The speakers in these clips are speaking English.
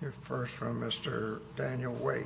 Here first from Mr. Daniel Wade.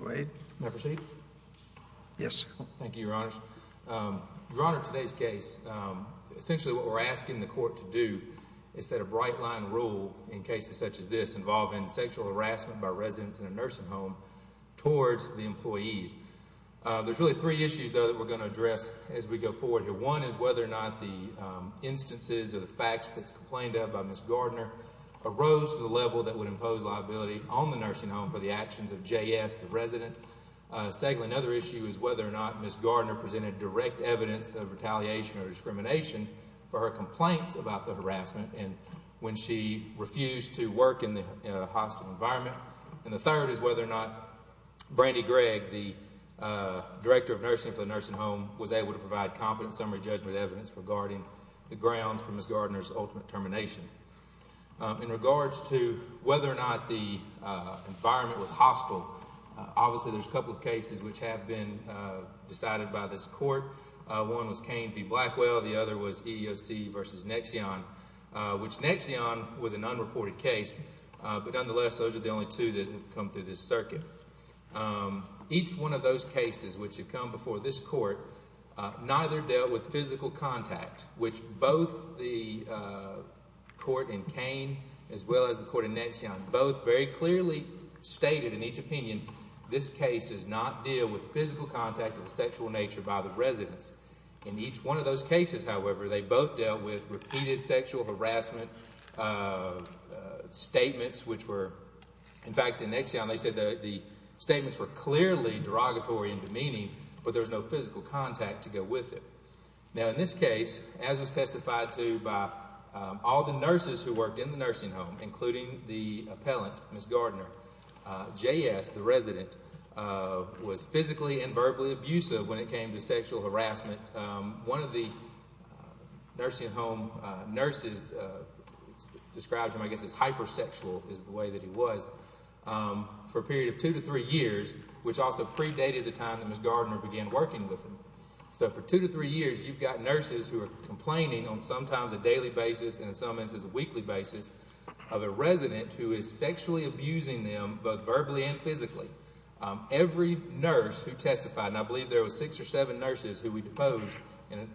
Mr. Wade, may I proceed? Yes, sir. Thank you, Your Honors. Your Honor, in today's case, essentially what we're asking the court to do is set a bright line rule in cases such as this involving sexual harassment by residents in a nursing home towards the employees. There's really three issues, though, that we're going to address as we go forward here. One is whether or not the instances or the facts that's complained of by Ms. Gardner arose to the level that would impose liability on the nursing home for the actions of J.S., the resident. Secondly, another issue is whether or not Ms. Gardner presented direct evidence of retaliation or discrimination for her complaints about the harassment when she refused to work in the hostile environment. And the third is whether or not Brandi Gregg, the director of nursing for the nursing home, was able to provide competent summary judgment evidence regarding the grounds for Ms. Gardner's ultimate termination. In regards to whether or not the environment was hostile, obviously there's a couple of cases which have been decided by this court. One was Cain v. Blackwell. The other was EEOC v. Nexion, which Nexion was an unreported case. But nonetheless, those are the only two that have come through this circuit. Each one of those cases which have come before this court, neither dealt with physical contact, which both the court in Cain as well as the court in Nexion, both very clearly stated in each opinion this case does not deal with physical contact of a sexual nature by the residents. In each one of those cases, however, they both dealt with repeated sexual harassment statements which were, in fact, in Nexion they said the statements were clearly derogatory and demeaning, but there was no physical contact to go with it. Now, in this case, as was testified to by all the nurses who worked in the nursing home, including the appellant, Ms. Gardner, J.S., the resident, was physically and verbally abusive when it came to sexual harassment. One of the nursing home nurses described him, I guess, as hypersexual is the way that he was, for a period of two to three years, which also predated the time that Ms. Gardner began working with him. So for two to three years, you've got nurses who are complaining on sometimes a daily basis and in some instances a weekly basis of a resident who is sexually abusing them both verbally and physically. Every nurse who testified, and I believe there were six or seven nurses who we deposed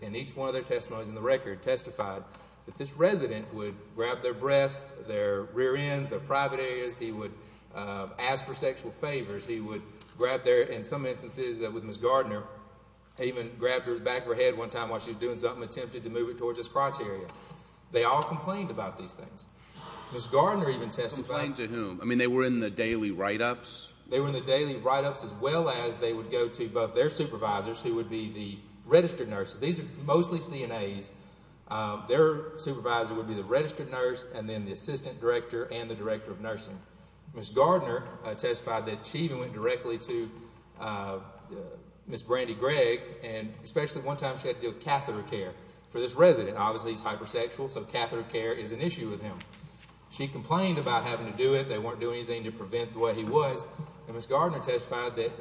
in each one of their testimonies in the record, testified that this resident would grab their breasts, their rear ends, their private areas. He would ask for sexual favors. He would grab their, in some instances with Ms. Gardner, he even grabbed her back of her head one time while she was doing something, attempted to move it towards his crotch area. They all complained about these things. Ms. Gardner even testified. Complained to whom? I mean, they were in the daily write-ups? They were in the daily write-ups as well as they would go to both their supervisors, who would be the registered nurses. These are mostly CNAs. Their supervisor would be the registered nurse and then the assistant director and the director of nursing. Ms. Gardner testified that she even went directly to Ms. Brandy Gregg, and especially one time she had to deal with catheter care for this resident. Obviously, he's hypersexual, so catheter care is an issue with him. She complained about having to do it. They weren't doing anything to prevent the way he was. And Ms. Gardner testified that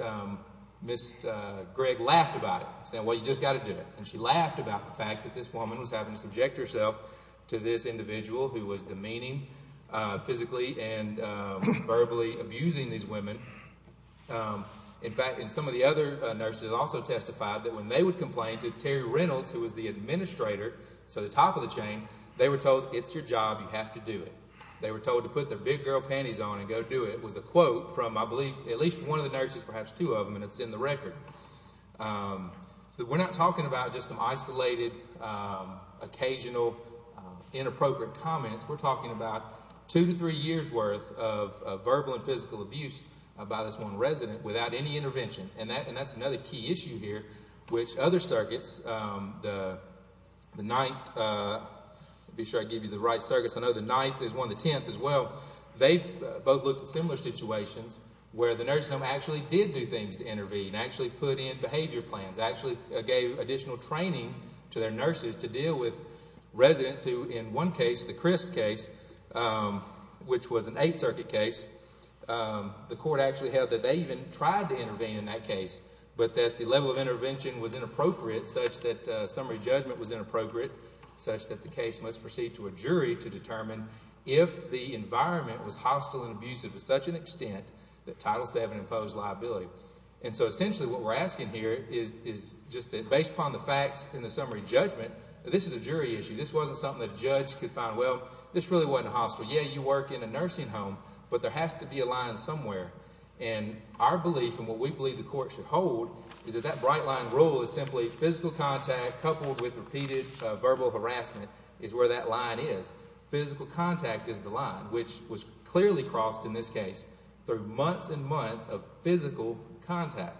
Ms. Gregg laughed about it, saying, well, you've just got to do it. And she laughed about the fact that this woman was having to subject herself to this individual who was demeaning physically and verbally abusing these women. In fact, some of the other nurses also testified that when they would complain to Terry Reynolds, who was the administrator, so the top of the chain, they were told, it's your job, you have to do it. They were told to put their big girl panties on and go do it. It was a quote from, I believe, at least one of the nurses, perhaps two of them, and it's in the record. So we're not talking about just some isolated, occasional, inappropriate comments. We're talking about two to three years' worth of verbal and physical abuse by this one resident without any intervention. And that's another key issue here, which other circuits, the Ninth, be sure I give you the right circuits, I know the Ninth is one, the Tenth as well, they both looked at similar situations where the nurse home actually did do things to intervene, actually put in behavior plans, actually gave additional training to their nurses to deal with residents who in one case, the Crist case, which was an Eighth Circuit case, the court actually held that they even tried to intervene in that case, but that the level of intervention was inappropriate such that summary judgment was inappropriate, such that the case must proceed to a jury to determine if the environment was hostile and abusive to such an extent that Title VII imposed liability. And so essentially what we're asking here is just that based upon the facts in the summary judgment, this is a jury issue. This wasn't something that a judge could find, well, this really wasn't hostile. Yeah, you work in a nursing home, but there has to be a line somewhere. And our belief and what we believe the court should hold is that that bright line rule is simply physical contact coupled with repeated verbal harassment is where that line is. Physical contact is the line, which was clearly crossed in this case through months and months of physical contact.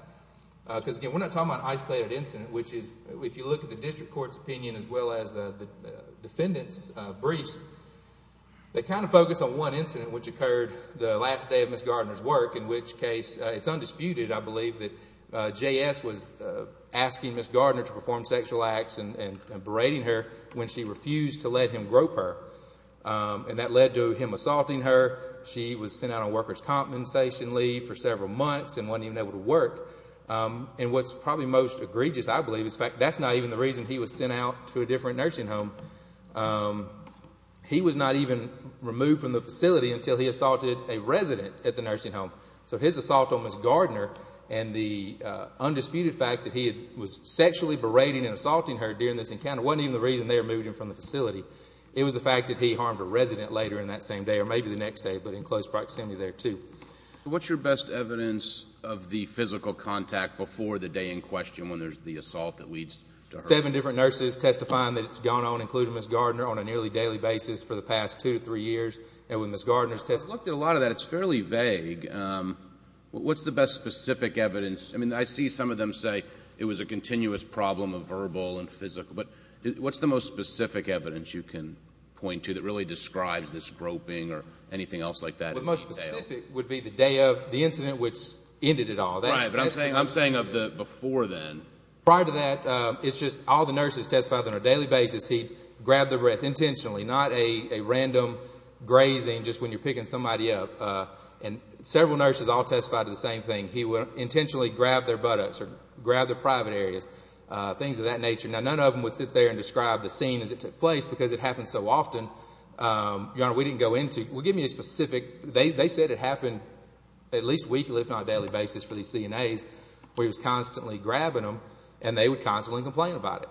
Because again, we're not talking about an isolated incident, which is if you look at the district court's opinion as well as the defendant's briefs, they kind of focus on one incident which occurred the last day of Ms. Gardner's work, in which case it's undisputed, I believe, that J.S. was asking Ms. Gardner to perform sexual acts and berating her when she refused to let him grope her. And that led to him assaulting her. She was sent out on worker's compensation leave for several months and wasn't even able to work. And what's probably most egregious, I believe, is the fact that that's not even the reason he was sent out to a different nursing home. He was not even removed from the facility until he assaulted a resident at the nursing home. So his assault on Ms. Gardner and the undisputed fact that he was sexually berating and assaulting her during this encounter wasn't even the reason they removed him from the facility. It was the fact that he harmed a resident later in that same day, or maybe the next day, but in close proximity there, too. What's your best evidence of the physical contact before the day in question when there's the assault that leads to her? Seven different nurses testifying that it's gone on, including Ms. Gardner, on a nearly daily basis for the past two to three years. I've looked at a lot of that. It's fairly vague. What's the best specific evidence? I mean, I see some of them say it was a continuous problem of verbal and physical. But what's the most specific evidence you can point to that really describes the scoping or anything else like that? The most specific would be the day of the incident, which ended it all. Right. But I'm saying of before then. Prior to that, it's just all the nurses testifying on a daily basis, he grabbed the wrist intentionally, not a random grazing just when you're picking somebody up. And several nurses all testified to the same thing. He would intentionally grab their buttocks or grab their private areas, things of that nature. Now, none of them would sit there and describe the scene as it took place because it happened so often. Your Honor, we didn't go into. We'll give you a specific. They said it happened at least weekly, if not a daily basis, for these CNAs where he was constantly grabbing them, and they would constantly complain about it.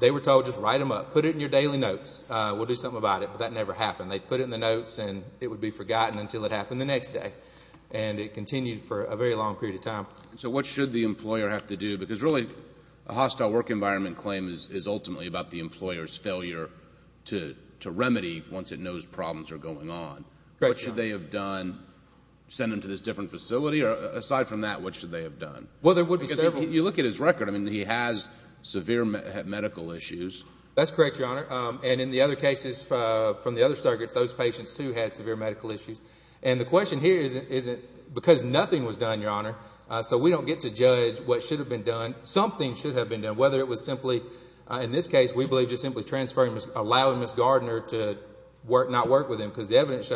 They were told, just write them up. Put it in your daily notes. We'll do something about it. But that never happened. They put it in the notes, and it would be forgotten until it happened the next day. And it continued for a very long period of time. So what should the employer have to do? Because really, a hostile work environment claim is ultimately about the employer's failure to remedy once it knows problems are going on. What should they have done? Send him to this different facility? Or aside from that, what should they have done? Well, there would be several. Well, you look at his record. I mean, he has severe medical issues. That's correct, Your Honor. And in the other cases from the other circuits, those patients, too, had severe medical issues. And the question here isn't because nothing was done, Your Honor, so we don't get to judge what should have been done. Something should have been done, whether it was simply, in this case, we believe just simply transferring, allowing Ms. Gardner to not work with him because the evidence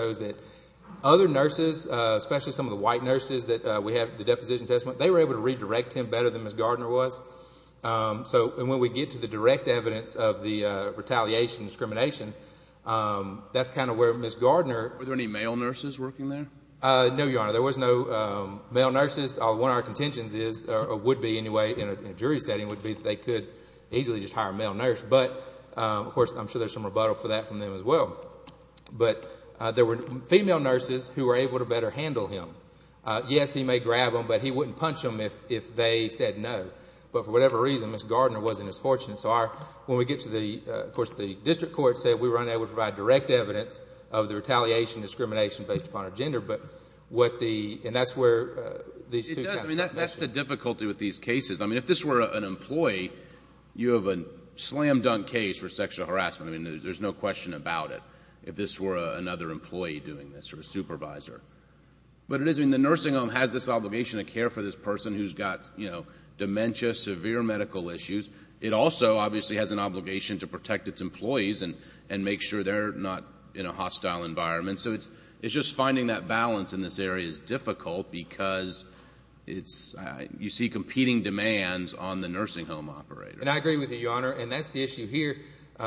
redirect him better than Ms. Gardner was. So when we get to the direct evidence of the retaliation discrimination, that's kind of where Ms. Gardner... Were there any male nurses working there? No, Your Honor. There was no male nurses. One of our contentions is or would be anyway in a jury setting would be that they could easily just hire a male nurse. But, of course, I'm sure there's some rebuttal for that from them as well. But there were female nurses who were able to better handle him. Yes, he may grab them, but he wouldn't punch them if they said no. But for whatever reason, Ms. Gardner wasn't as fortunate. So when we get to the... Of course, the district court said we were unable to provide direct evidence of the retaliation discrimination based upon her gender. But what the... And that's where these two... It does. I mean, that's the difficulty with these cases. I mean, if this were an employee, you have a slam dunk case for sexual harassment. I mean, there's no question about it if this were another employee doing this or a supervisor. But it is... I mean, the nursing home has this obligation to care for this person who's got, you know, dementia, severe medical issues. It also, obviously, has an obligation to protect its employees and make sure they're not in a hostile environment. So it's just finding that balance in this area is difficult because it's... You see competing demands on the nursing home operator. And I agree with you, Your Honor. And that's the issue here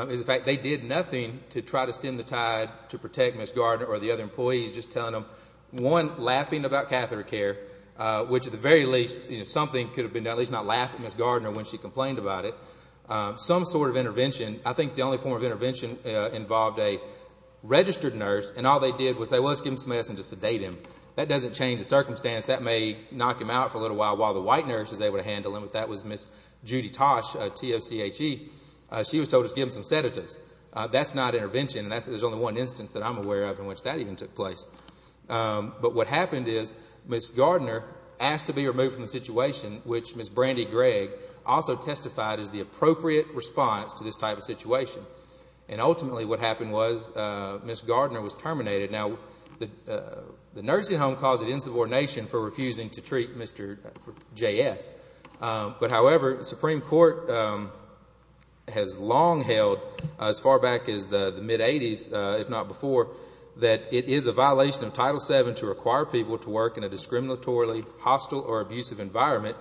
is the fact they did nothing to try to stem the tide to protect Ms. Gardner or the other employees, just telling them, one, laughing about catheter care, which at the very least, something could have been done. At least not laughing at Ms. Gardner when she complained about it. Some sort of intervention, I think the only form of intervention involved a registered nurse, and all they did was say, well, let's give him some medicine to sedate him. That doesn't change the circumstance. That may knock him out for a little while while the white nurse is able to handle him, but that was Ms. Judy Tosh, T-O-C-H-E. She was told to give him some sedatives. That's not intervention. There's only one instance that I'm aware of in which that even took place. But what happened is Ms. Gardner asked to be removed from the situation, which Ms. Brandy Gregg also testified is the appropriate response to this type of situation. And ultimately what happened was Ms. Gardner was terminated. Now, the nursing home caused insubordination for refusing to treat Mr. J.S. But, however, the Supreme Court has long held as far back as the mid-'80s, if not before, that it is a violation of Title VII to require people to work in a discriminatorily hostile or abusive environment,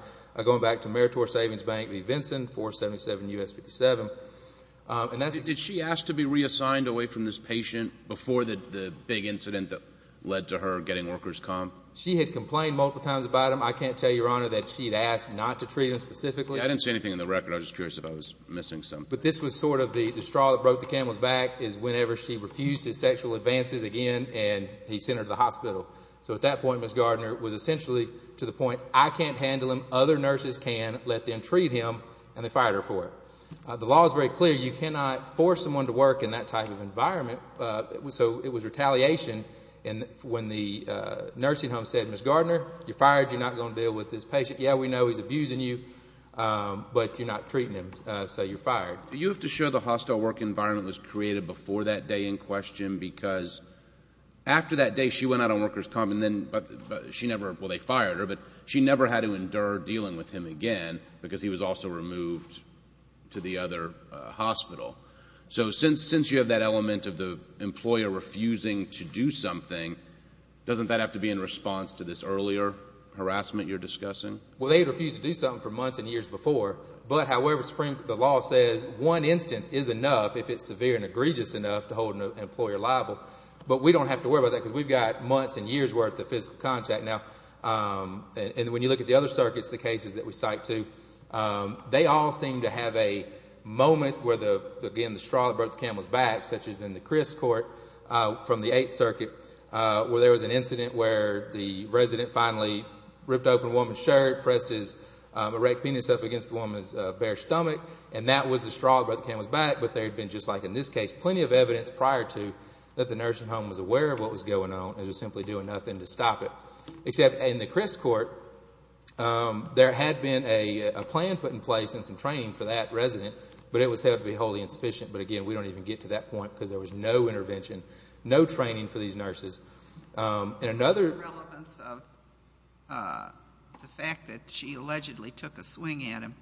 going back to Meritor Savings Bank v. Vinson, 477 U.S. 57. Did she ask to be reassigned away from this patient before the big incident that led to her getting workers' comp? She had complained multiple times about him. I can't tell you, Your Honor, that she had asked not to treat him specifically. I didn't see anything in the record. I was just curious if I was missing something. But this was sort of the straw that broke the camel's back, is whenever she refused his sexual advances again and he sent her to the hospital. So at that point, Ms. Gardner was essentially to the point, I can't handle him, other nurses can, let them treat him, and they fired her for it. The law is very clear. You cannot force someone to work in that type of environment. So it was retaliation when the nursing home said, Ms. Gardner, you're fired. You're not going to deal with this patient. Yeah, we know he's abusing you, but you're not treating him, so you're fired. Do you have to show the hostile work environment was created before that day in question? Because after that day she went out on workers' comp and then she never, well, they fired her, but she never had to endure dealing with him again because he was also removed to the other hospital. So since you have that element of the employer refusing to do something, doesn't that have to be in response to this earlier harassment you're discussing? Well, they had refused to do something for months and years before. But, however, the law says one instance is enough if it's severe and egregious enough to hold an employer liable. But we don't have to worry about that because we've got months and years' worth of physical contact now. And when you look at the other circuits, the cases that we cite too, they all seem to have a moment where, again, the straw that broke the camel's back, such as in the Crist Court from the Eighth Circuit, where there was an incident where the resident finally ripped open a woman's shirt, pressed his erect penis up against the woman's bare stomach, and that was the straw that broke the camel's back. But there had been, just like in this case, plenty of evidence prior to that the nursing home was aware of what was going on and was simply doing nothing to stop it. Except in the Crist Court, there had been a plan put in place and some training for that resident, but it was held to be wholly insufficient. But, again, we don't even get to that point because there was no intervention, no training for these nurses. And another- What's the relevance of the fact that she allegedly took a swing at him?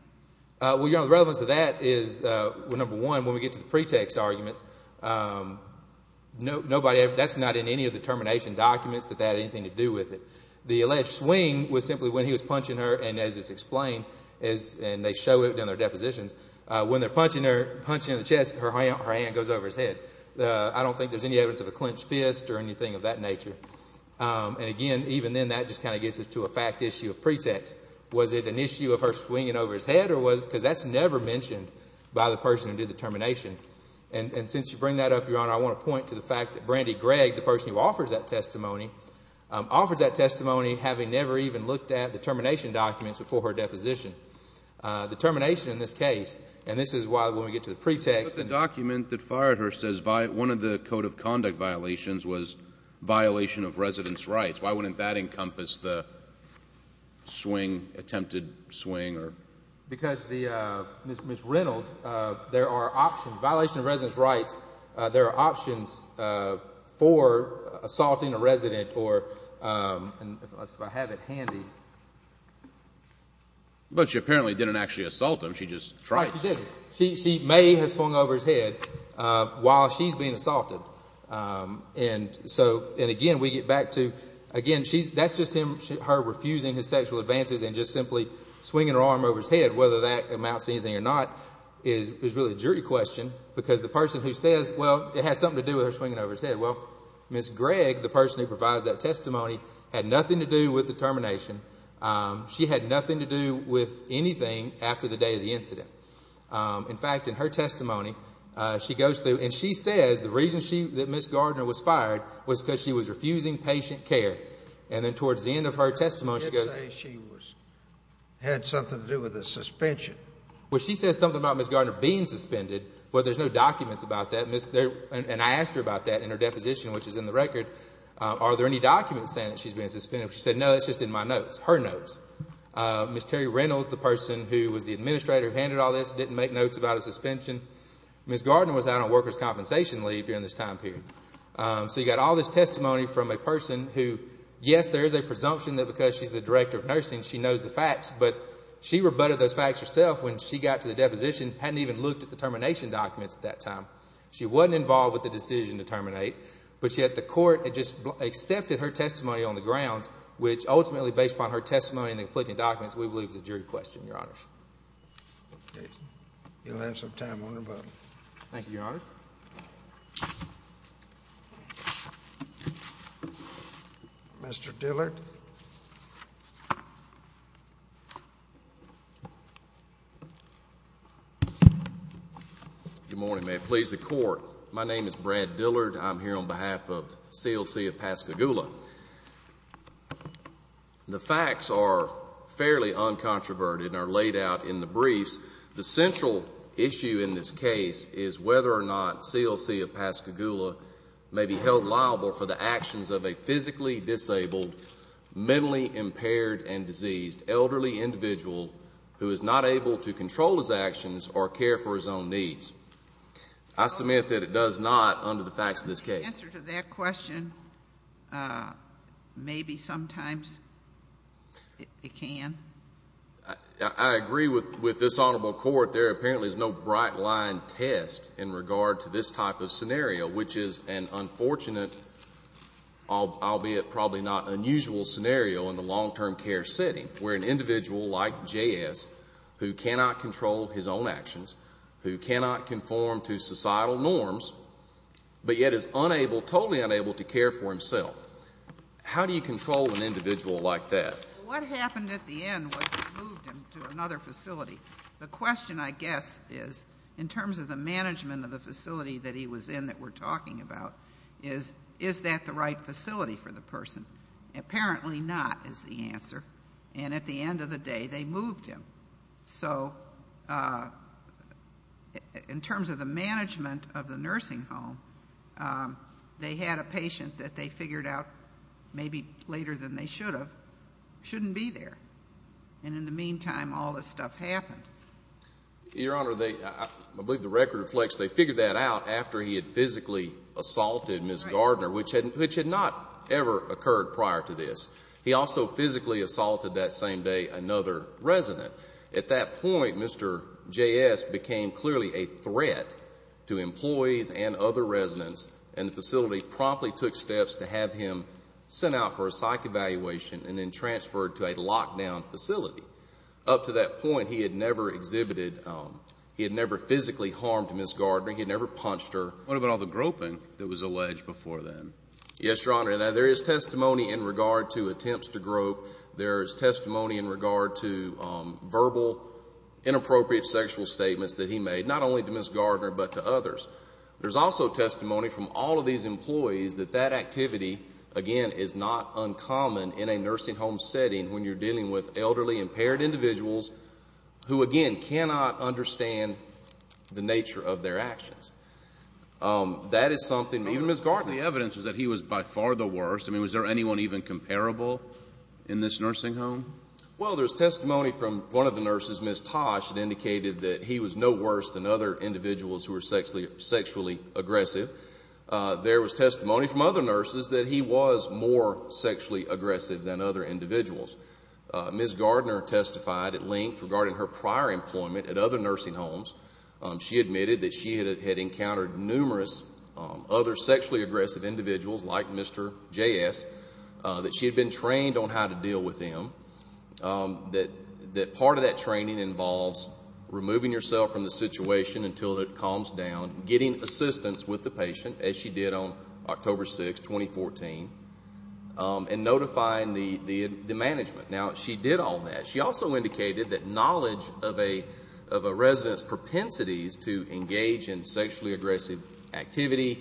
Well, the relevance of that is, number one, when we get to the pretext arguments, that's not in any of the termination documents that that had anything to do with it. The alleged swing was simply when he was punching her, and as it's explained, and they show it in their depositions, when they're punching her in the chest, her hand goes over his head. I don't think there's any evidence of a clenched fist or anything of that nature. And, again, even then, that just kind of gets us to a fact issue of pretext. Was it an issue of her swinging over his head? Because that's never mentioned by the person who did the termination. And since you bring that up, Your Honor, I want to point to the fact that Brandy Gregg, the person who offers that testimony, offers that testimony having never even looked at the termination documents before her deposition. The termination in this case, and this is why when we get to the pretext- But the document that fired her says one of the code of conduct violations was violation of resident's rights. Why wouldn't that encompass the swing, attempted swing? Because Ms. Reynolds, there are options. Violation of resident's rights, there are options for assaulting a resident or, if I have it handy- But she apparently didn't actually assault him. She just tried to. Right, she didn't. She may have swung over his head while she's being assaulted. And, again, we get back to, again, that's just her refusing his sexual advances and just simply swinging her arm over his head, whether that amounts to anything or not, is really a jury question. Because the person who says, well, it had something to do with her swinging over his head. Well, Ms. Gregg, the person who provides that testimony, had nothing to do with the termination. She had nothing to do with anything after the day of the incident. In fact, in her testimony, she goes through and she says the reason that Ms. Gardner was fired was because she was refusing patient care. And then towards the end of her testimony, she goes- She did say she had something to do with the suspension. Well, she says something about Ms. Gardner being suspended, but there's no documents about that. And I asked her about that in her deposition, which is in the record. Are there any documents saying that she's being suspended? She said, no, that's just in my notes, her notes. Ms. Terry Reynolds, the person who was the administrator who handed all this, didn't make notes about a suspension. Ms. Gardner was out on workers' compensation leave during this time period. So you've got all this testimony from a person who, yes, there is a presumption that because she's the director of nursing, she knows the facts, but she rebutted those facts herself when she got to the deposition, hadn't even looked at the termination documents at that time. She wasn't involved with the decision to terminate, but yet the court had just accepted her testimony on the grounds, which ultimately, based upon her testimony and the conflicting documents, we believe is a jury question, Your Honor. Okay. You'll have some time on her, but- Thank you, Your Honor. Mr. Dillard. Good morning. May it please the Court, my name is Brad Dillard. I'm here on behalf of CLC of Pascagoula. The facts are fairly uncontroverted and are laid out in the briefs. The central issue in this case is whether or not CLC of Pascagoula may be held liable for the actions of a physically disabled, mentally impaired and diseased elderly individual who is not able to control his actions or care for his own needs. I submit that it does not under the facts of this case. The answer to that question, maybe sometimes it can. I agree with this Honorable Court. There apparently is no bright line test in regard to this type of scenario, which is an unfortunate, albeit probably not unusual, scenario in the long-term care setting where an individual like J.S. who cannot control his own actions, who cannot conform to societal norms, but yet is unable, totally unable to care for himself. How do you control an individual like that? What happened at the end was they moved him to another facility. The question, I guess, is, in terms of the management of the facility that he was in that we're talking about, is that the right facility for the person? Apparently not is the answer. And at the end of the day, they moved him. So in terms of the management of the nursing home, they had a patient that they figured out maybe later than they should have shouldn't be there. And in the meantime, all this stuff happened. Your Honor, I believe the record reflects they figured that out after he had physically assaulted Ms. Gardner, which had not ever occurred prior to this. He also physically assaulted that same day another resident. At that point, Mr. J.S. became clearly a threat to employees and other residents, and the facility promptly took steps to have him sent out for a psych evaluation and then transferred to a lockdown facility. Up to that point, he had never exhibited, he had never physically harmed Ms. Gardner. He had never punched her. What about all the groping that was alleged before then? Yes, Your Honor. Now, there is testimony in regard to attempts to grope. There is testimony in regard to verbal inappropriate sexual statements that he made, not only to Ms. Gardner but to others. There's also testimony from all of these employees that that activity, again, is not uncommon in a nursing home setting when you're dealing with elderly, impaired individuals who, again, cannot understand the nature of their actions. That is something, even Ms. Gardner. The evidence is that he was by far the worst. I mean, was there anyone even comparable in this nursing home? Well, there's testimony from one of the nurses, Ms. Tosh, that indicated that he was no worse than other individuals who were sexually aggressive. There was testimony from other nurses that he was more sexually aggressive than other individuals. Ms. Gardner testified at length regarding her prior employment at other nursing homes. She admitted that she had encountered numerous other sexually aggressive individuals like Mr. J.S., that she had been trained on how to deal with them, that part of that training involves removing yourself from the situation until it calms down, getting assistance with the patient, as she did on October 6, 2014, and notifying the management. Now, she did all that. She also indicated that knowledge of a resident's propensities to engage in sexually aggressive activity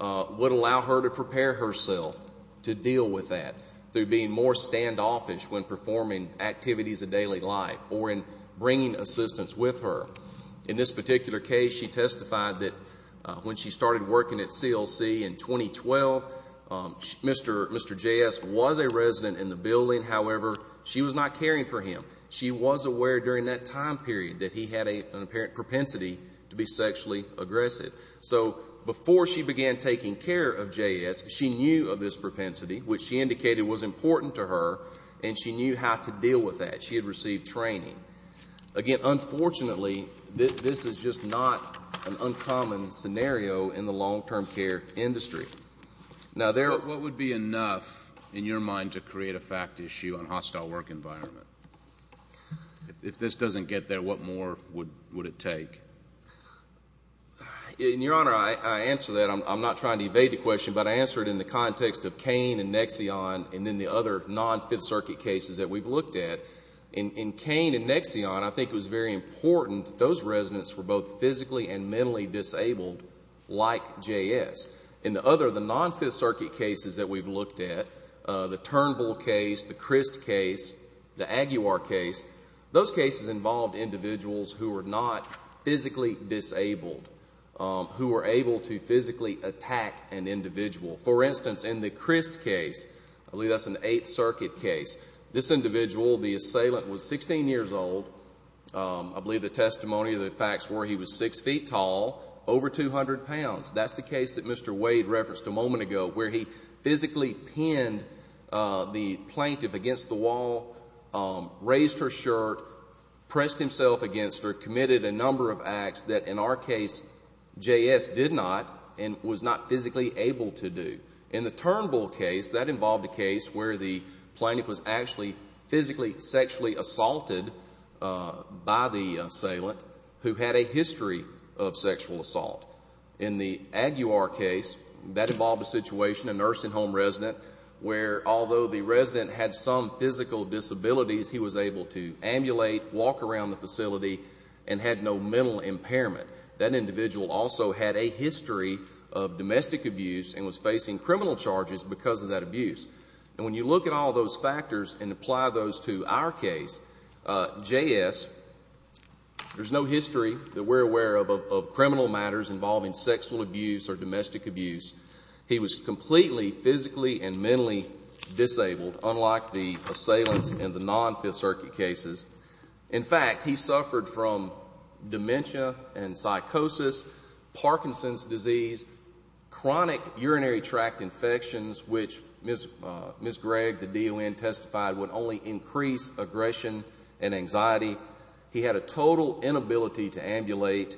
would allow her to prepare herself to deal with that through being more standoffish when performing activities of daily life or in bringing assistance with her. In this particular case, she testified that when she started working at CLC in 2012, Mr. J.S. was a resident in the building. However, she was not caring for him. She was aware during that time period that he had an apparent propensity to be sexually aggressive. So before she began taking care of J.S., she knew of this propensity, which she indicated was important to her, and she knew how to deal with that. She had received training. Again, unfortunately, this is just not an uncommon scenario in the long-term care industry. What would be enough, in your mind, to create a fact issue on hostile work environment? If this doesn't get there, what more would it take? Your Honor, I answer that. I'm not trying to evade the question, but I answer it in the context of Cain and Nexion and then the other non-Fifth Circuit cases that we've looked at. In Cain and Nexion, I think it was very important that those residents were both physically and mentally disabled like J.S. In the other, the non-Fifth Circuit cases that we've looked at, the Turnbull case, the Christ case, the Aguiar case, those cases involved individuals who were not physically disabled, who were able to physically attack an individual. For instance, in the Christ case, I believe that's an Eighth Circuit case, this individual, the assailant was 16 years old. I believe the testimony of the facts were he was 6 feet tall, over 200 pounds. That's the case that Mr. Wade referenced a moment ago where he physically pinned the plaintiff against the wall, raised her shirt, pressed himself against her, committed a number of acts that in our case J.S. did not and was not physically able to do. In the Turnbull case, that involved a case where the plaintiff was actually physically, sexually assaulted by the assailant who had a history of sexual assault. In the Aguiar case, that involved a situation, a nursing home resident, where although the resident had some physical disabilities, he was able to amulate, walk around the facility, and had no mental impairment. That individual also had a history of domestic abuse and was facing criminal charges because of that abuse. And when you look at all those factors and apply those to our case, J.S., there's no history that we're aware of of criminal matters involving sexual abuse or domestic abuse. He was completely physically and mentally disabled, unlike the assailants in the non-Fifth Circuit cases. In fact, he suffered from dementia and psychosis, Parkinson's disease, chronic urinary tract infections, which Ms. Gregg, the D.O.N., testified would only increase aggression and anxiety. He had a total inability to ambulate.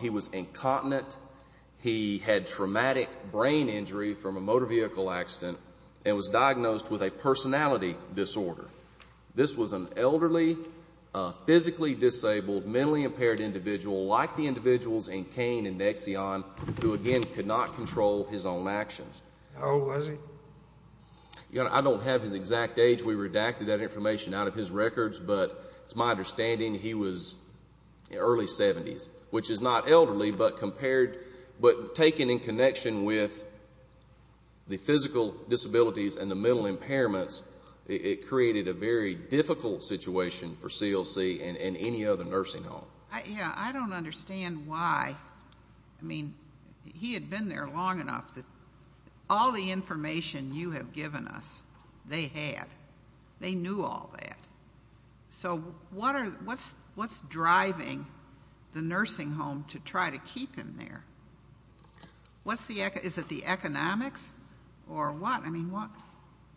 He was incontinent. He had traumatic brain injury from a motor vehicle accident and was diagnosed with a personality disorder. This was an elderly, physically disabled, mentally impaired individual, like the individuals in Cain and Exxon, who, again, could not control his own actions. How old was he? Your Honor, I don't have his exact age. We redacted that information out of his records, but it's my understanding he was in his early 70s, which is not elderly, but compared, but taken in connection with the physical disabilities and the mental impairments, it created a very difficult situation for CLC and any other nursing home. Yeah, I don't understand why. I mean, he had been there long enough that all the information you have given us, they had. They knew all that. So what's driving the nursing home to try to keep him there? Is it the economics or what? I mean,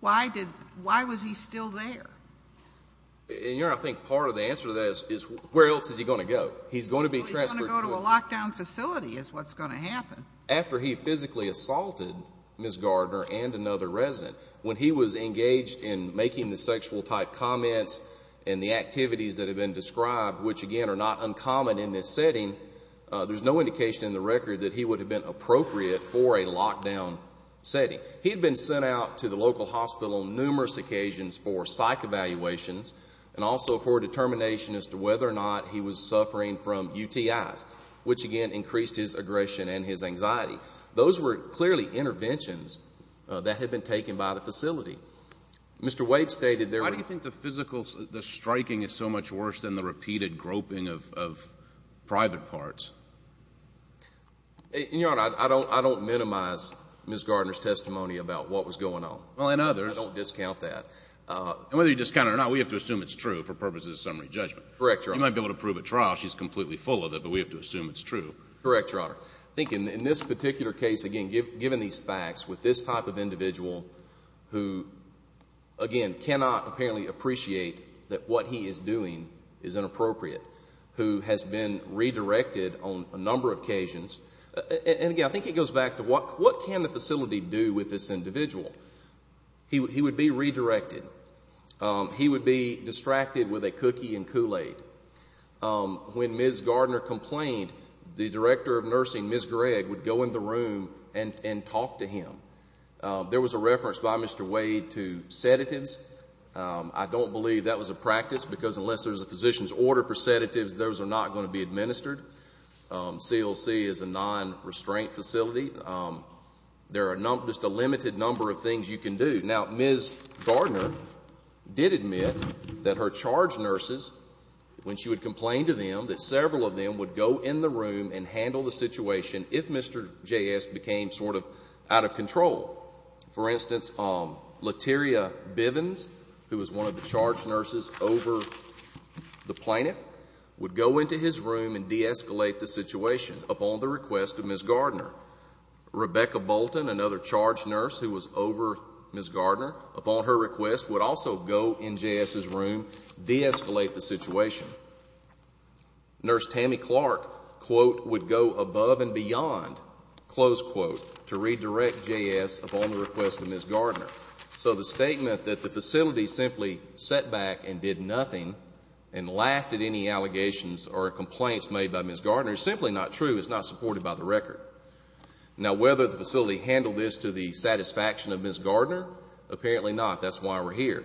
why was he still there? Your Honor, I think part of the answer to that is where else is he going to go? He's going to be transferred. He's going to go to a lockdown facility is what's going to happen. After he physically assaulted Ms. Gardner and another resident, when he was engaged in making the sexual-type comments and the activities that have been described, which, again, are not uncommon in this setting, there's no indication in the record that he would have been appropriate for a lockdown setting. He had been sent out to the local hospital on numerous occasions for psych evaluations and also for a determination as to whether or not he was suffering from UTIs, which, again, increased his aggression and his anxiety. Those were clearly interventions that had been taken by the facility. Mr. Wade stated there were... Why do you think the striking is so much worse than the repeated groping of private parts? Your Honor, I don't minimize Ms. Gardner's testimony about what was going on. Well, and others. I don't discount that. And whether you discount it or not, we have to assume it's true for purposes of summary judgment. Correct, Your Honor. You might be able to prove at trial she's completely full of it, but we have to assume it's true. Correct, Your Honor. I think in this particular case, again, given these facts, with this type of individual who, again, cannot apparently appreciate that what he is doing is inappropriate, who has been redirected on a number of occasions. And, again, I think it goes back to what can the facility do with this individual? He would be redirected. He would be distracted with a cookie and Kool-Aid. When Ms. Gardner complained, the director of nursing, Ms. Gregg, would go in the room and talk to him. There was a reference by Mr. Wade to sedatives. I don't believe that was a practice because unless there's a physician's order for sedatives, those are not going to be administered. CLC is a non-restraint facility. There are just a limited number of things you can do. Now, Ms. Gardner did admit that her charge nurses, when she would complain to them, that several of them would go in the room and handle the situation if Mr. J.S. became sort of out of control. For instance, Lateria Bivens, who was one of the charge nurses over the plaintiff, would go into his room and deescalate the situation upon the request of Ms. Gardner. Rebecca Bolton, another charge nurse who was over Ms. Gardner, upon her request, would also go in J.S.'s room, deescalate the situation. Nurse Tammy Clark, quote, would go above and beyond, close quote, to redirect J.S. upon the request of Ms. Gardner. So the statement that the facility simply sat back and did nothing and laughed at any allegations or complaints made by Ms. Gardner is simply not true. It's not supported by the record. Now, whether the facility handled this to the satisfaction of Ms. Gardner, apparently not. That's why we're here.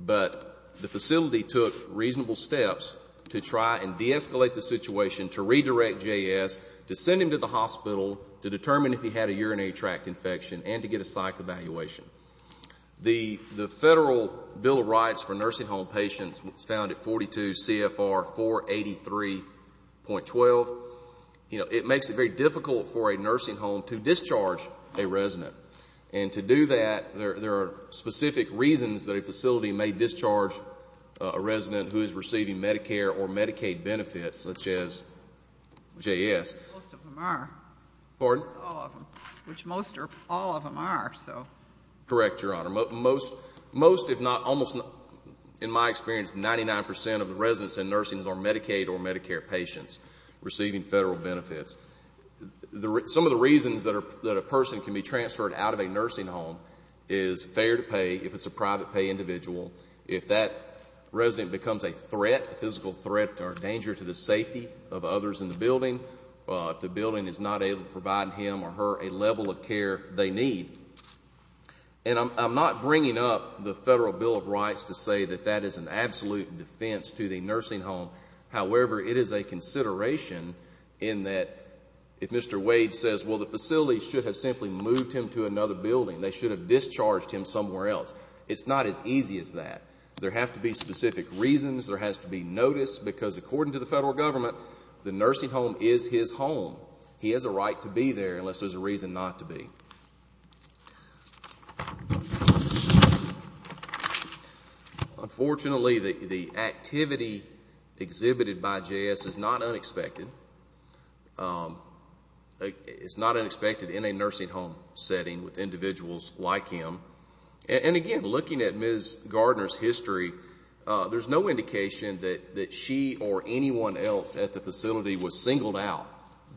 But the facility took reasonable steps to try and deescalate the situation, to redirect J.S., to send him to the hospital to determine if he had a urinary tract infection and to get a psych evaluation. The Federal Bill of Rights for nursing home patients was found at 42 CFR 483.12. You know, it makes it very difficult for a nursing home to discharge a resident. And to do that, there are specific reasons that a facility may discharge a resident who is receiving Medicare or Medicaid benefits, such as J.S. Most of them are. Pardon? All of them, which most or all of them are, so. Correct, Your Honor. Most, if not almost, in my experience, 99 percent of the residents in nursing are Medicaid or Medicare patients receiving Federal benefits. Some of the reasons that a person can be transferred out of a nursing home is fair to pay, if it's a private pay individual. If that resident becomes a threat, a physical threat or danger to the safety of others in the building, if the building is not able to provide him or her a level of care they need. And I'm not bringing up the Federal Bill of Rights to say that that is an absolute defense to the nursing home. However, it is a consideration in that if Mr. Wade says, well, the facility should have simply moved him to another building, they should have discharged him somewhere else. It's not as easy as that. There have to be specific reasons. There has to be notice because, according to the Federal Government, the nursing home is his home. He has a right to be there unless there's a reason not to be. Unfortunately, the activity exhibited by JS is not unexpected. It's not unexpected in a nursing home setting with individuals like him. And, again, looking at Ms. Gardner's history, there's no indication that she or anyone else at the facility was singled out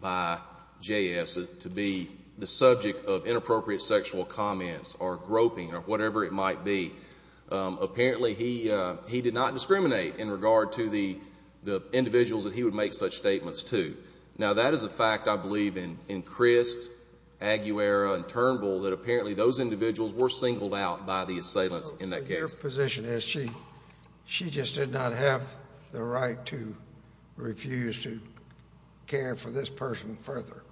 by JS to be the subject of inappropriate sexual comments or groping or whatever it might be. Apparently, he did not discriminate in regard to the individuals that he would make such statements to. Now, that is a fact, I believe, in Crist, Aguera, and Turnbull, that apparently those individuals were singled out by the assailants in that case. Your position is she just did not have the right to refuse to care for this person further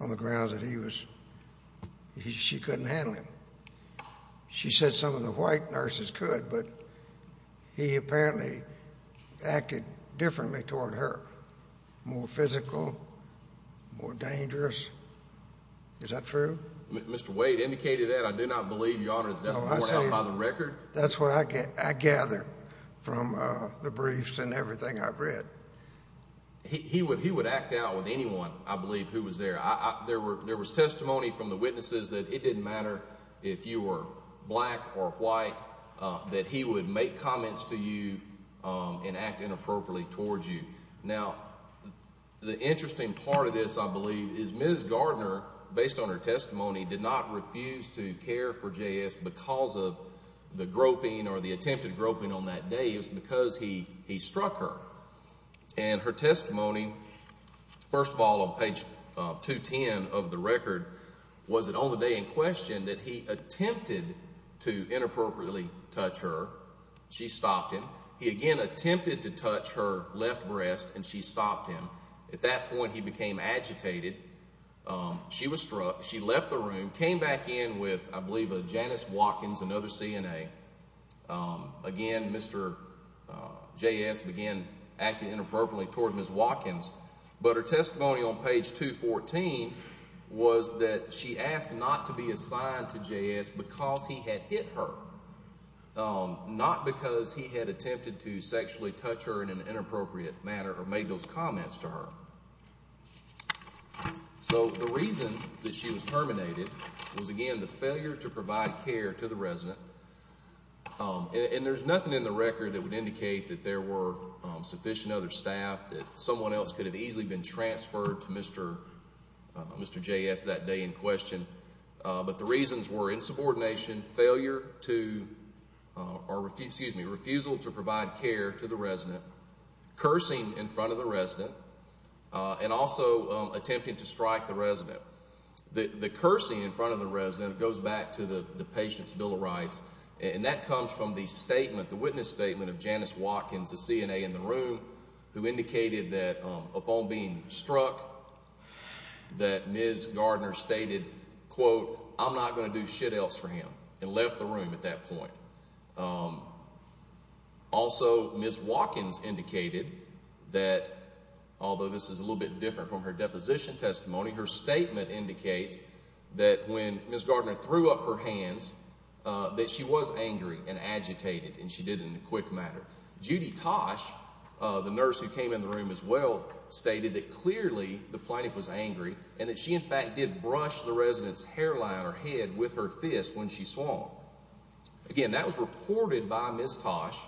on the grounds that she couldn't handle him. She said some of the white nurses could, but he apparently acted differently toward her, more physical, more dangerous. Is that true? Mr. Wade indicated that. I do not believe, Your Honor, that that's what I saw by the record. That's what I gather from the briefs and everything I've read. He would act out with anyone, I believe, who was there. There was testimony from the witnesses that it didn't matter if you were black or white, that he would make comments to you and act inappropriately toward you. Now, the interesting part of this, I believe, is Ms. Gardner, based on her testimony, did not refuse to care for J.S. because of the groping or the attempted groping on that day. It was because he struck her. And her testimony, first of all, on page 210 of the record, was that on the day in question that he attempted to inappropriately touch her. She stopped him. He again attempted to touch her left breast, and she stopped him. At that point, he became agitated. She was struck. She left the room, came back in with, I believe, a Janice Watkins, another CNA. Again, Mr. J.S. began acting inappropriately toward Ms. Watkins. But her testimony on page 214 was that she asked not to be assigned to J.S. because he had hit her, not because he had attempted to sexually touch her in an inappropriate manner or made those comments to her. So the reason that she was terminated was, again, the failure to provide care to the resident. And there's nothing in the record that would indicate that there were sufficient other staff, that someone else could have easily been transferred to Mr. J.S. that day in question. But the reasons were insubordination, refusal to provide care to the resident, cursing in front of the resident, and also attempting to strike the resident. The cursing in front of the resident goes back to the patient's Bill of Rights, and that comes from the statement, the witness statement of Janice Watkins, the CNA in the room, who indicated that, upon being struck, that Ms. Gardner stated, quote, I'm not going to do shit else for him and left the room at that point. Also, Ms. Watkins indicated that, although this is a little bit different from her deposition testimony, her statement indicates that when Ms. Gardner threw up her hands, that she was angry and agitated, and she did it in a quick manner. Judy Tosh, the nurse who came in the room as well, stated that clearly the plaintiff was angry and that she, in fact, did brush the resident's hairline or head with her fist when she swung. Again, that was reported by Ms. Tosh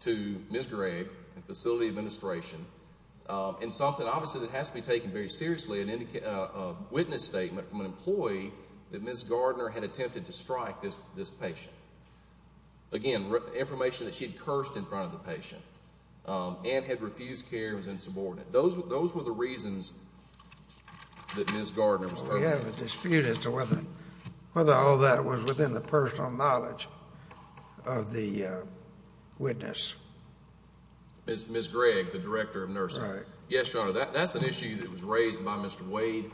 to Ms. Gregg and Facility Administration in something, obviously, that has to be taken very seriously, a witness statement from an employee that Ms. Gardner had attempted to strike this patient. Again, information that she had cursed in front of the patient and had refused care and was insubordinate. Those were the reasons that Ms. Gardner was turned down. We have a dispute as to whether all that was within the personal knowledge of the witness. Ms. Gregg, the director of nursing. Correct. Yes, Your Honor, that's an issue that was raised by Mr. Wade.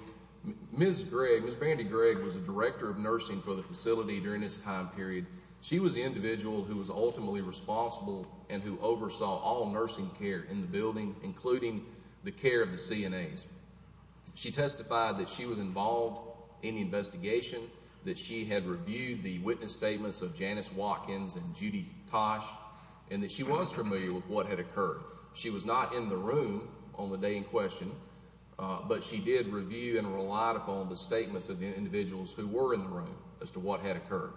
Ms. Gregg, Ms. Brandy Gregg, was the director of nursing for the facility during this time period. She was the individual who was ultimately responsible and who oversaw all nursing care in the building, including the care of the CNAs. She testified that she was involved in the investigation, that she had reviewed the witness statements of Janice Watkins and Judy Tosh, and that she was familiar with what had occurred. She was not in the room on the day in question, but she did review and relied upon the statements of the individuals who were in the room as to what had occurred.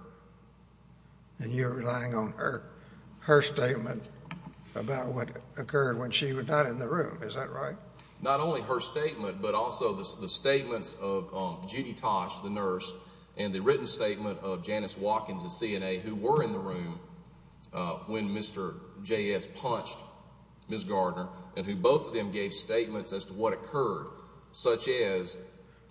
And you're relying on her statement about what occurred when she was not in the room, is that right? Not only her statement, but also the statements of Judy Tosh, the nurse, and the written statement of Janice Watkins, the CNA, who were in the room when Mr. J.S. punched Ms. Gardner, and who both of them gave statements as to what occurred, such as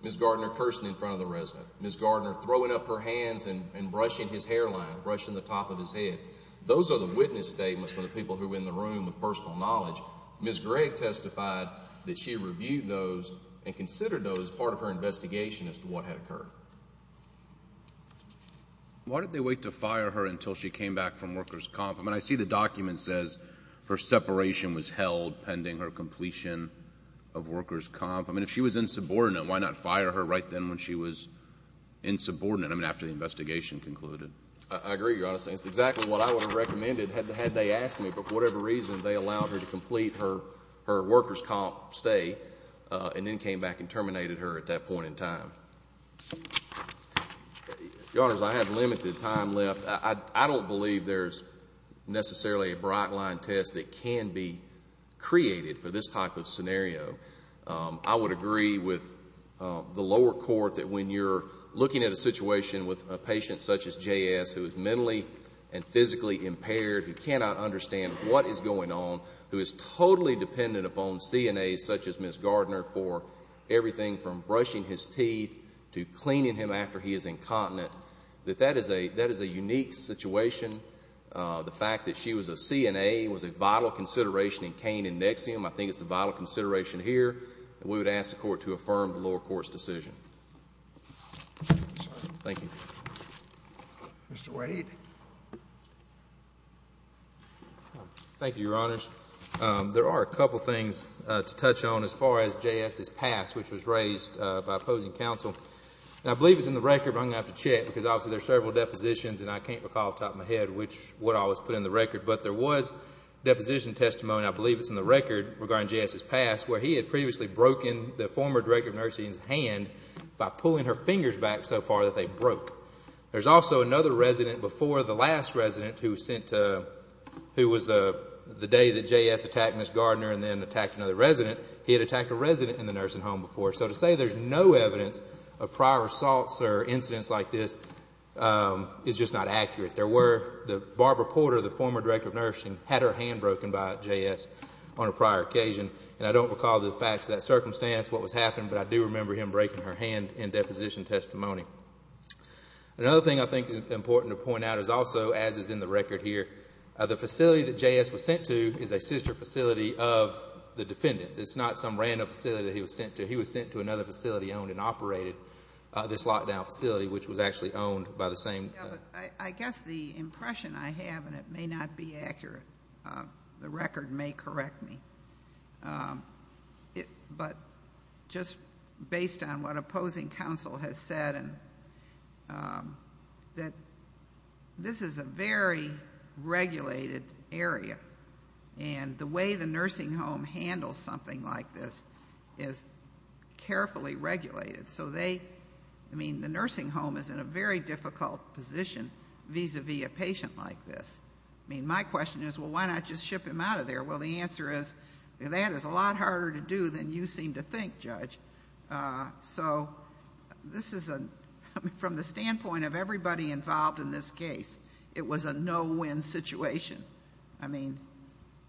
Ms. Gardner cursing in front of the resident, Ms. Gardner throwing up her hands and brushing his hairline, brushing the top of his head. Those are the witness statements from the people who were in the room with personal knowledge. Ms. Gregg testified that she reviewed those and considered those part of her investigation as to what had occurred. Why did they wait to fire her until she came back from workers' comp? I mean, I see the document says her separation was held pending her completion of workers' comp. I mean, if she was insubordinate, why not fire her right then when she was insubordinate, I mean, after the investigation concluded? I agree, Your Honor. It's exactly what I would have recommended had they asked me. But for whatever reason, they allowed her to complete her workers' comp stay and then came back and terminated her at that point in time. Your Honors, I have limited time left. I don't believe there's necessarily a bright-line test that can be created for this type of scenario. I would agree with the lower court that when you're looking at a situation with a patient such as J.S. who is mentally and physically impaired, who cannot understand what is going on, who is totally dependent upon CNAs such as Ms. Gardner for everything from brushing his teeth to cleaning him after he is incontinent, that that is a unique situation. The fact that she was a CNA was a vital consideration in Kane and Nexium. I think it's a vital consideration here. We would ask the Court to affirm the lower court's decision. Thank you. Mr. Wade. Thank you, Your Honors. There are a couple of things to touch on as far as J.S.'s past, which was raised by opposing counsel. And I believe it's in the record, but I'm going to have to check because obviously there are several depositions and I can't recall off the top of my head what all was put in the record. But there was deposition testimony, I believe it's in the record, regarding J.S.'s past, where he had previously broken the former director of nursing's hand by pulling her fingers back so far that they broke. There's also another resident before the last resident who was the day that J.S. attacked Ms. Gardner and then attacked another resident. He had attacked a resident in the nursing home before. So to say there's no evidence of prior assaults or incidents like this is just not accurate. There were. Barbara Porter, the former director of nursing, had her hand broken by J.S. on a prior occasion. And I don't recall the facts of that circumstance, what was happening, but I do remember him breaking her hand in deposition testimony. Another thing I think is important to point out is also, as is in the record here, the facility that J.S. was sent to is a sister facility of the defendant's. It's not some random facility that he was sent to. He was sent to another facility owned and operated, this lockdown facility, which was actually owned by the same. I guess the impression I have, and it may not be accurate, the record may correct me. But just based on what opposing counsel has said, that this is a very regulated area. And the way the nursing home handles something like this is carefully regulated. So they, I mean, the nursing home is in a very difficult position vis-à-vis a patient like this. I mean, my question is, well, why not just ship him out of there? Well, the answer is, that is a lot harder to do than you seem to think, Judge. So this is a, I mean, from the standpoint of everybody involved in this case, it was a no-win situation. I mean.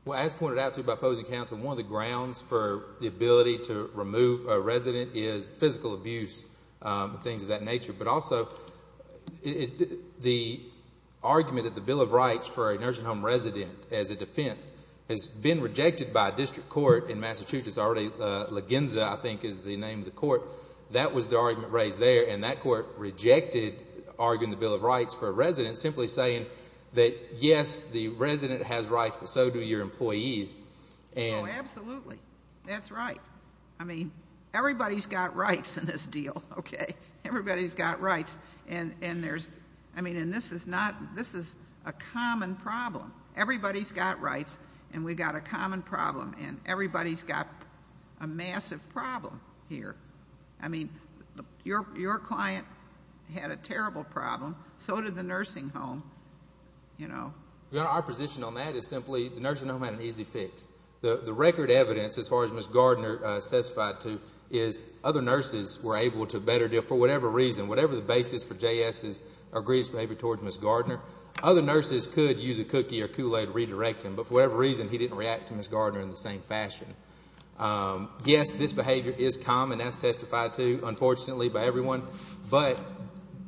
Well, as pointed out to you by opposing counsel, one of the grounds for the ability to remove a resident is physical abuse, things of that nature. But also, the argument that the Bill of Rights for a nursing home resident as a defense has been rejected by a district court in Massachusetts, already Lagenza, I think, is the name of the court. That was the argument raised there, and that court rejected arguing the Bill of Rights for a resident, simply saying that, yes, the resident has rights, but so do your employees. Oh, absolutely. That's right. I mean, everybody's got rights in this deal, okay? Everybody's got rights, and there's, I mean, and this is not, this is a common problem. Everybody's got rights, and we've got a common problem, and everybody's got a massive problem here. I mean, your client had a terrible problem. So did the nursing home, you know. Your Honor, our position on that is simply the nursing home had an easy fix. The record evidence, as far as Ms. Gardner testified to, is other nurses were able to better deal. For whatever reason, whatever the basis for J.S.'s or Greer's behavior towards Ms. Gardner, other nurses could use a cookie or Kool-Aid to redirect him, but for whatever reason, he didn't react to Ms. Gardner in the same fashion. Yes, this behavior is common, as testified to, unfortunately, by everyone, but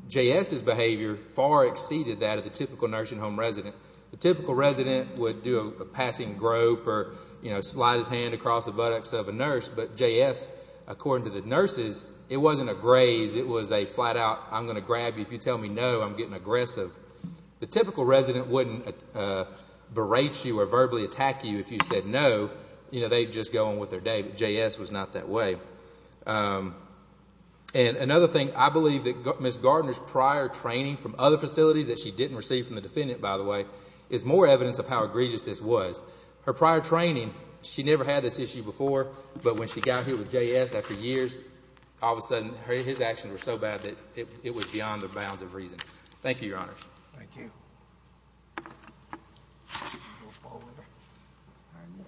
J.S.'s behavior far exceeded that of the typical nursing home resident. The typical resident would do a passing grope or, you know, slide his hand across the buttocks of a nurse, but J.S., according to the nurses, it wasn't a graze. It was a flat-out, I'm going to grab you if you tell me no. I'm getting aggressive. The typical resident wouldn't berate you or verbally attack you if you said no. You know, they'd just go on with their day, but J.S. was not that way. And another thing, I believe that Ms. Gardner's prior training from other facilities that she didn't receive from the defendant, by the way, is more evidence of how egregious this was. Her prior training, she never had this issue before, but when she got here with J.S. after years, all of a sudden his actions were so bad that it was beyond the bounds of reason. Thank you, Your Honor. Thank you.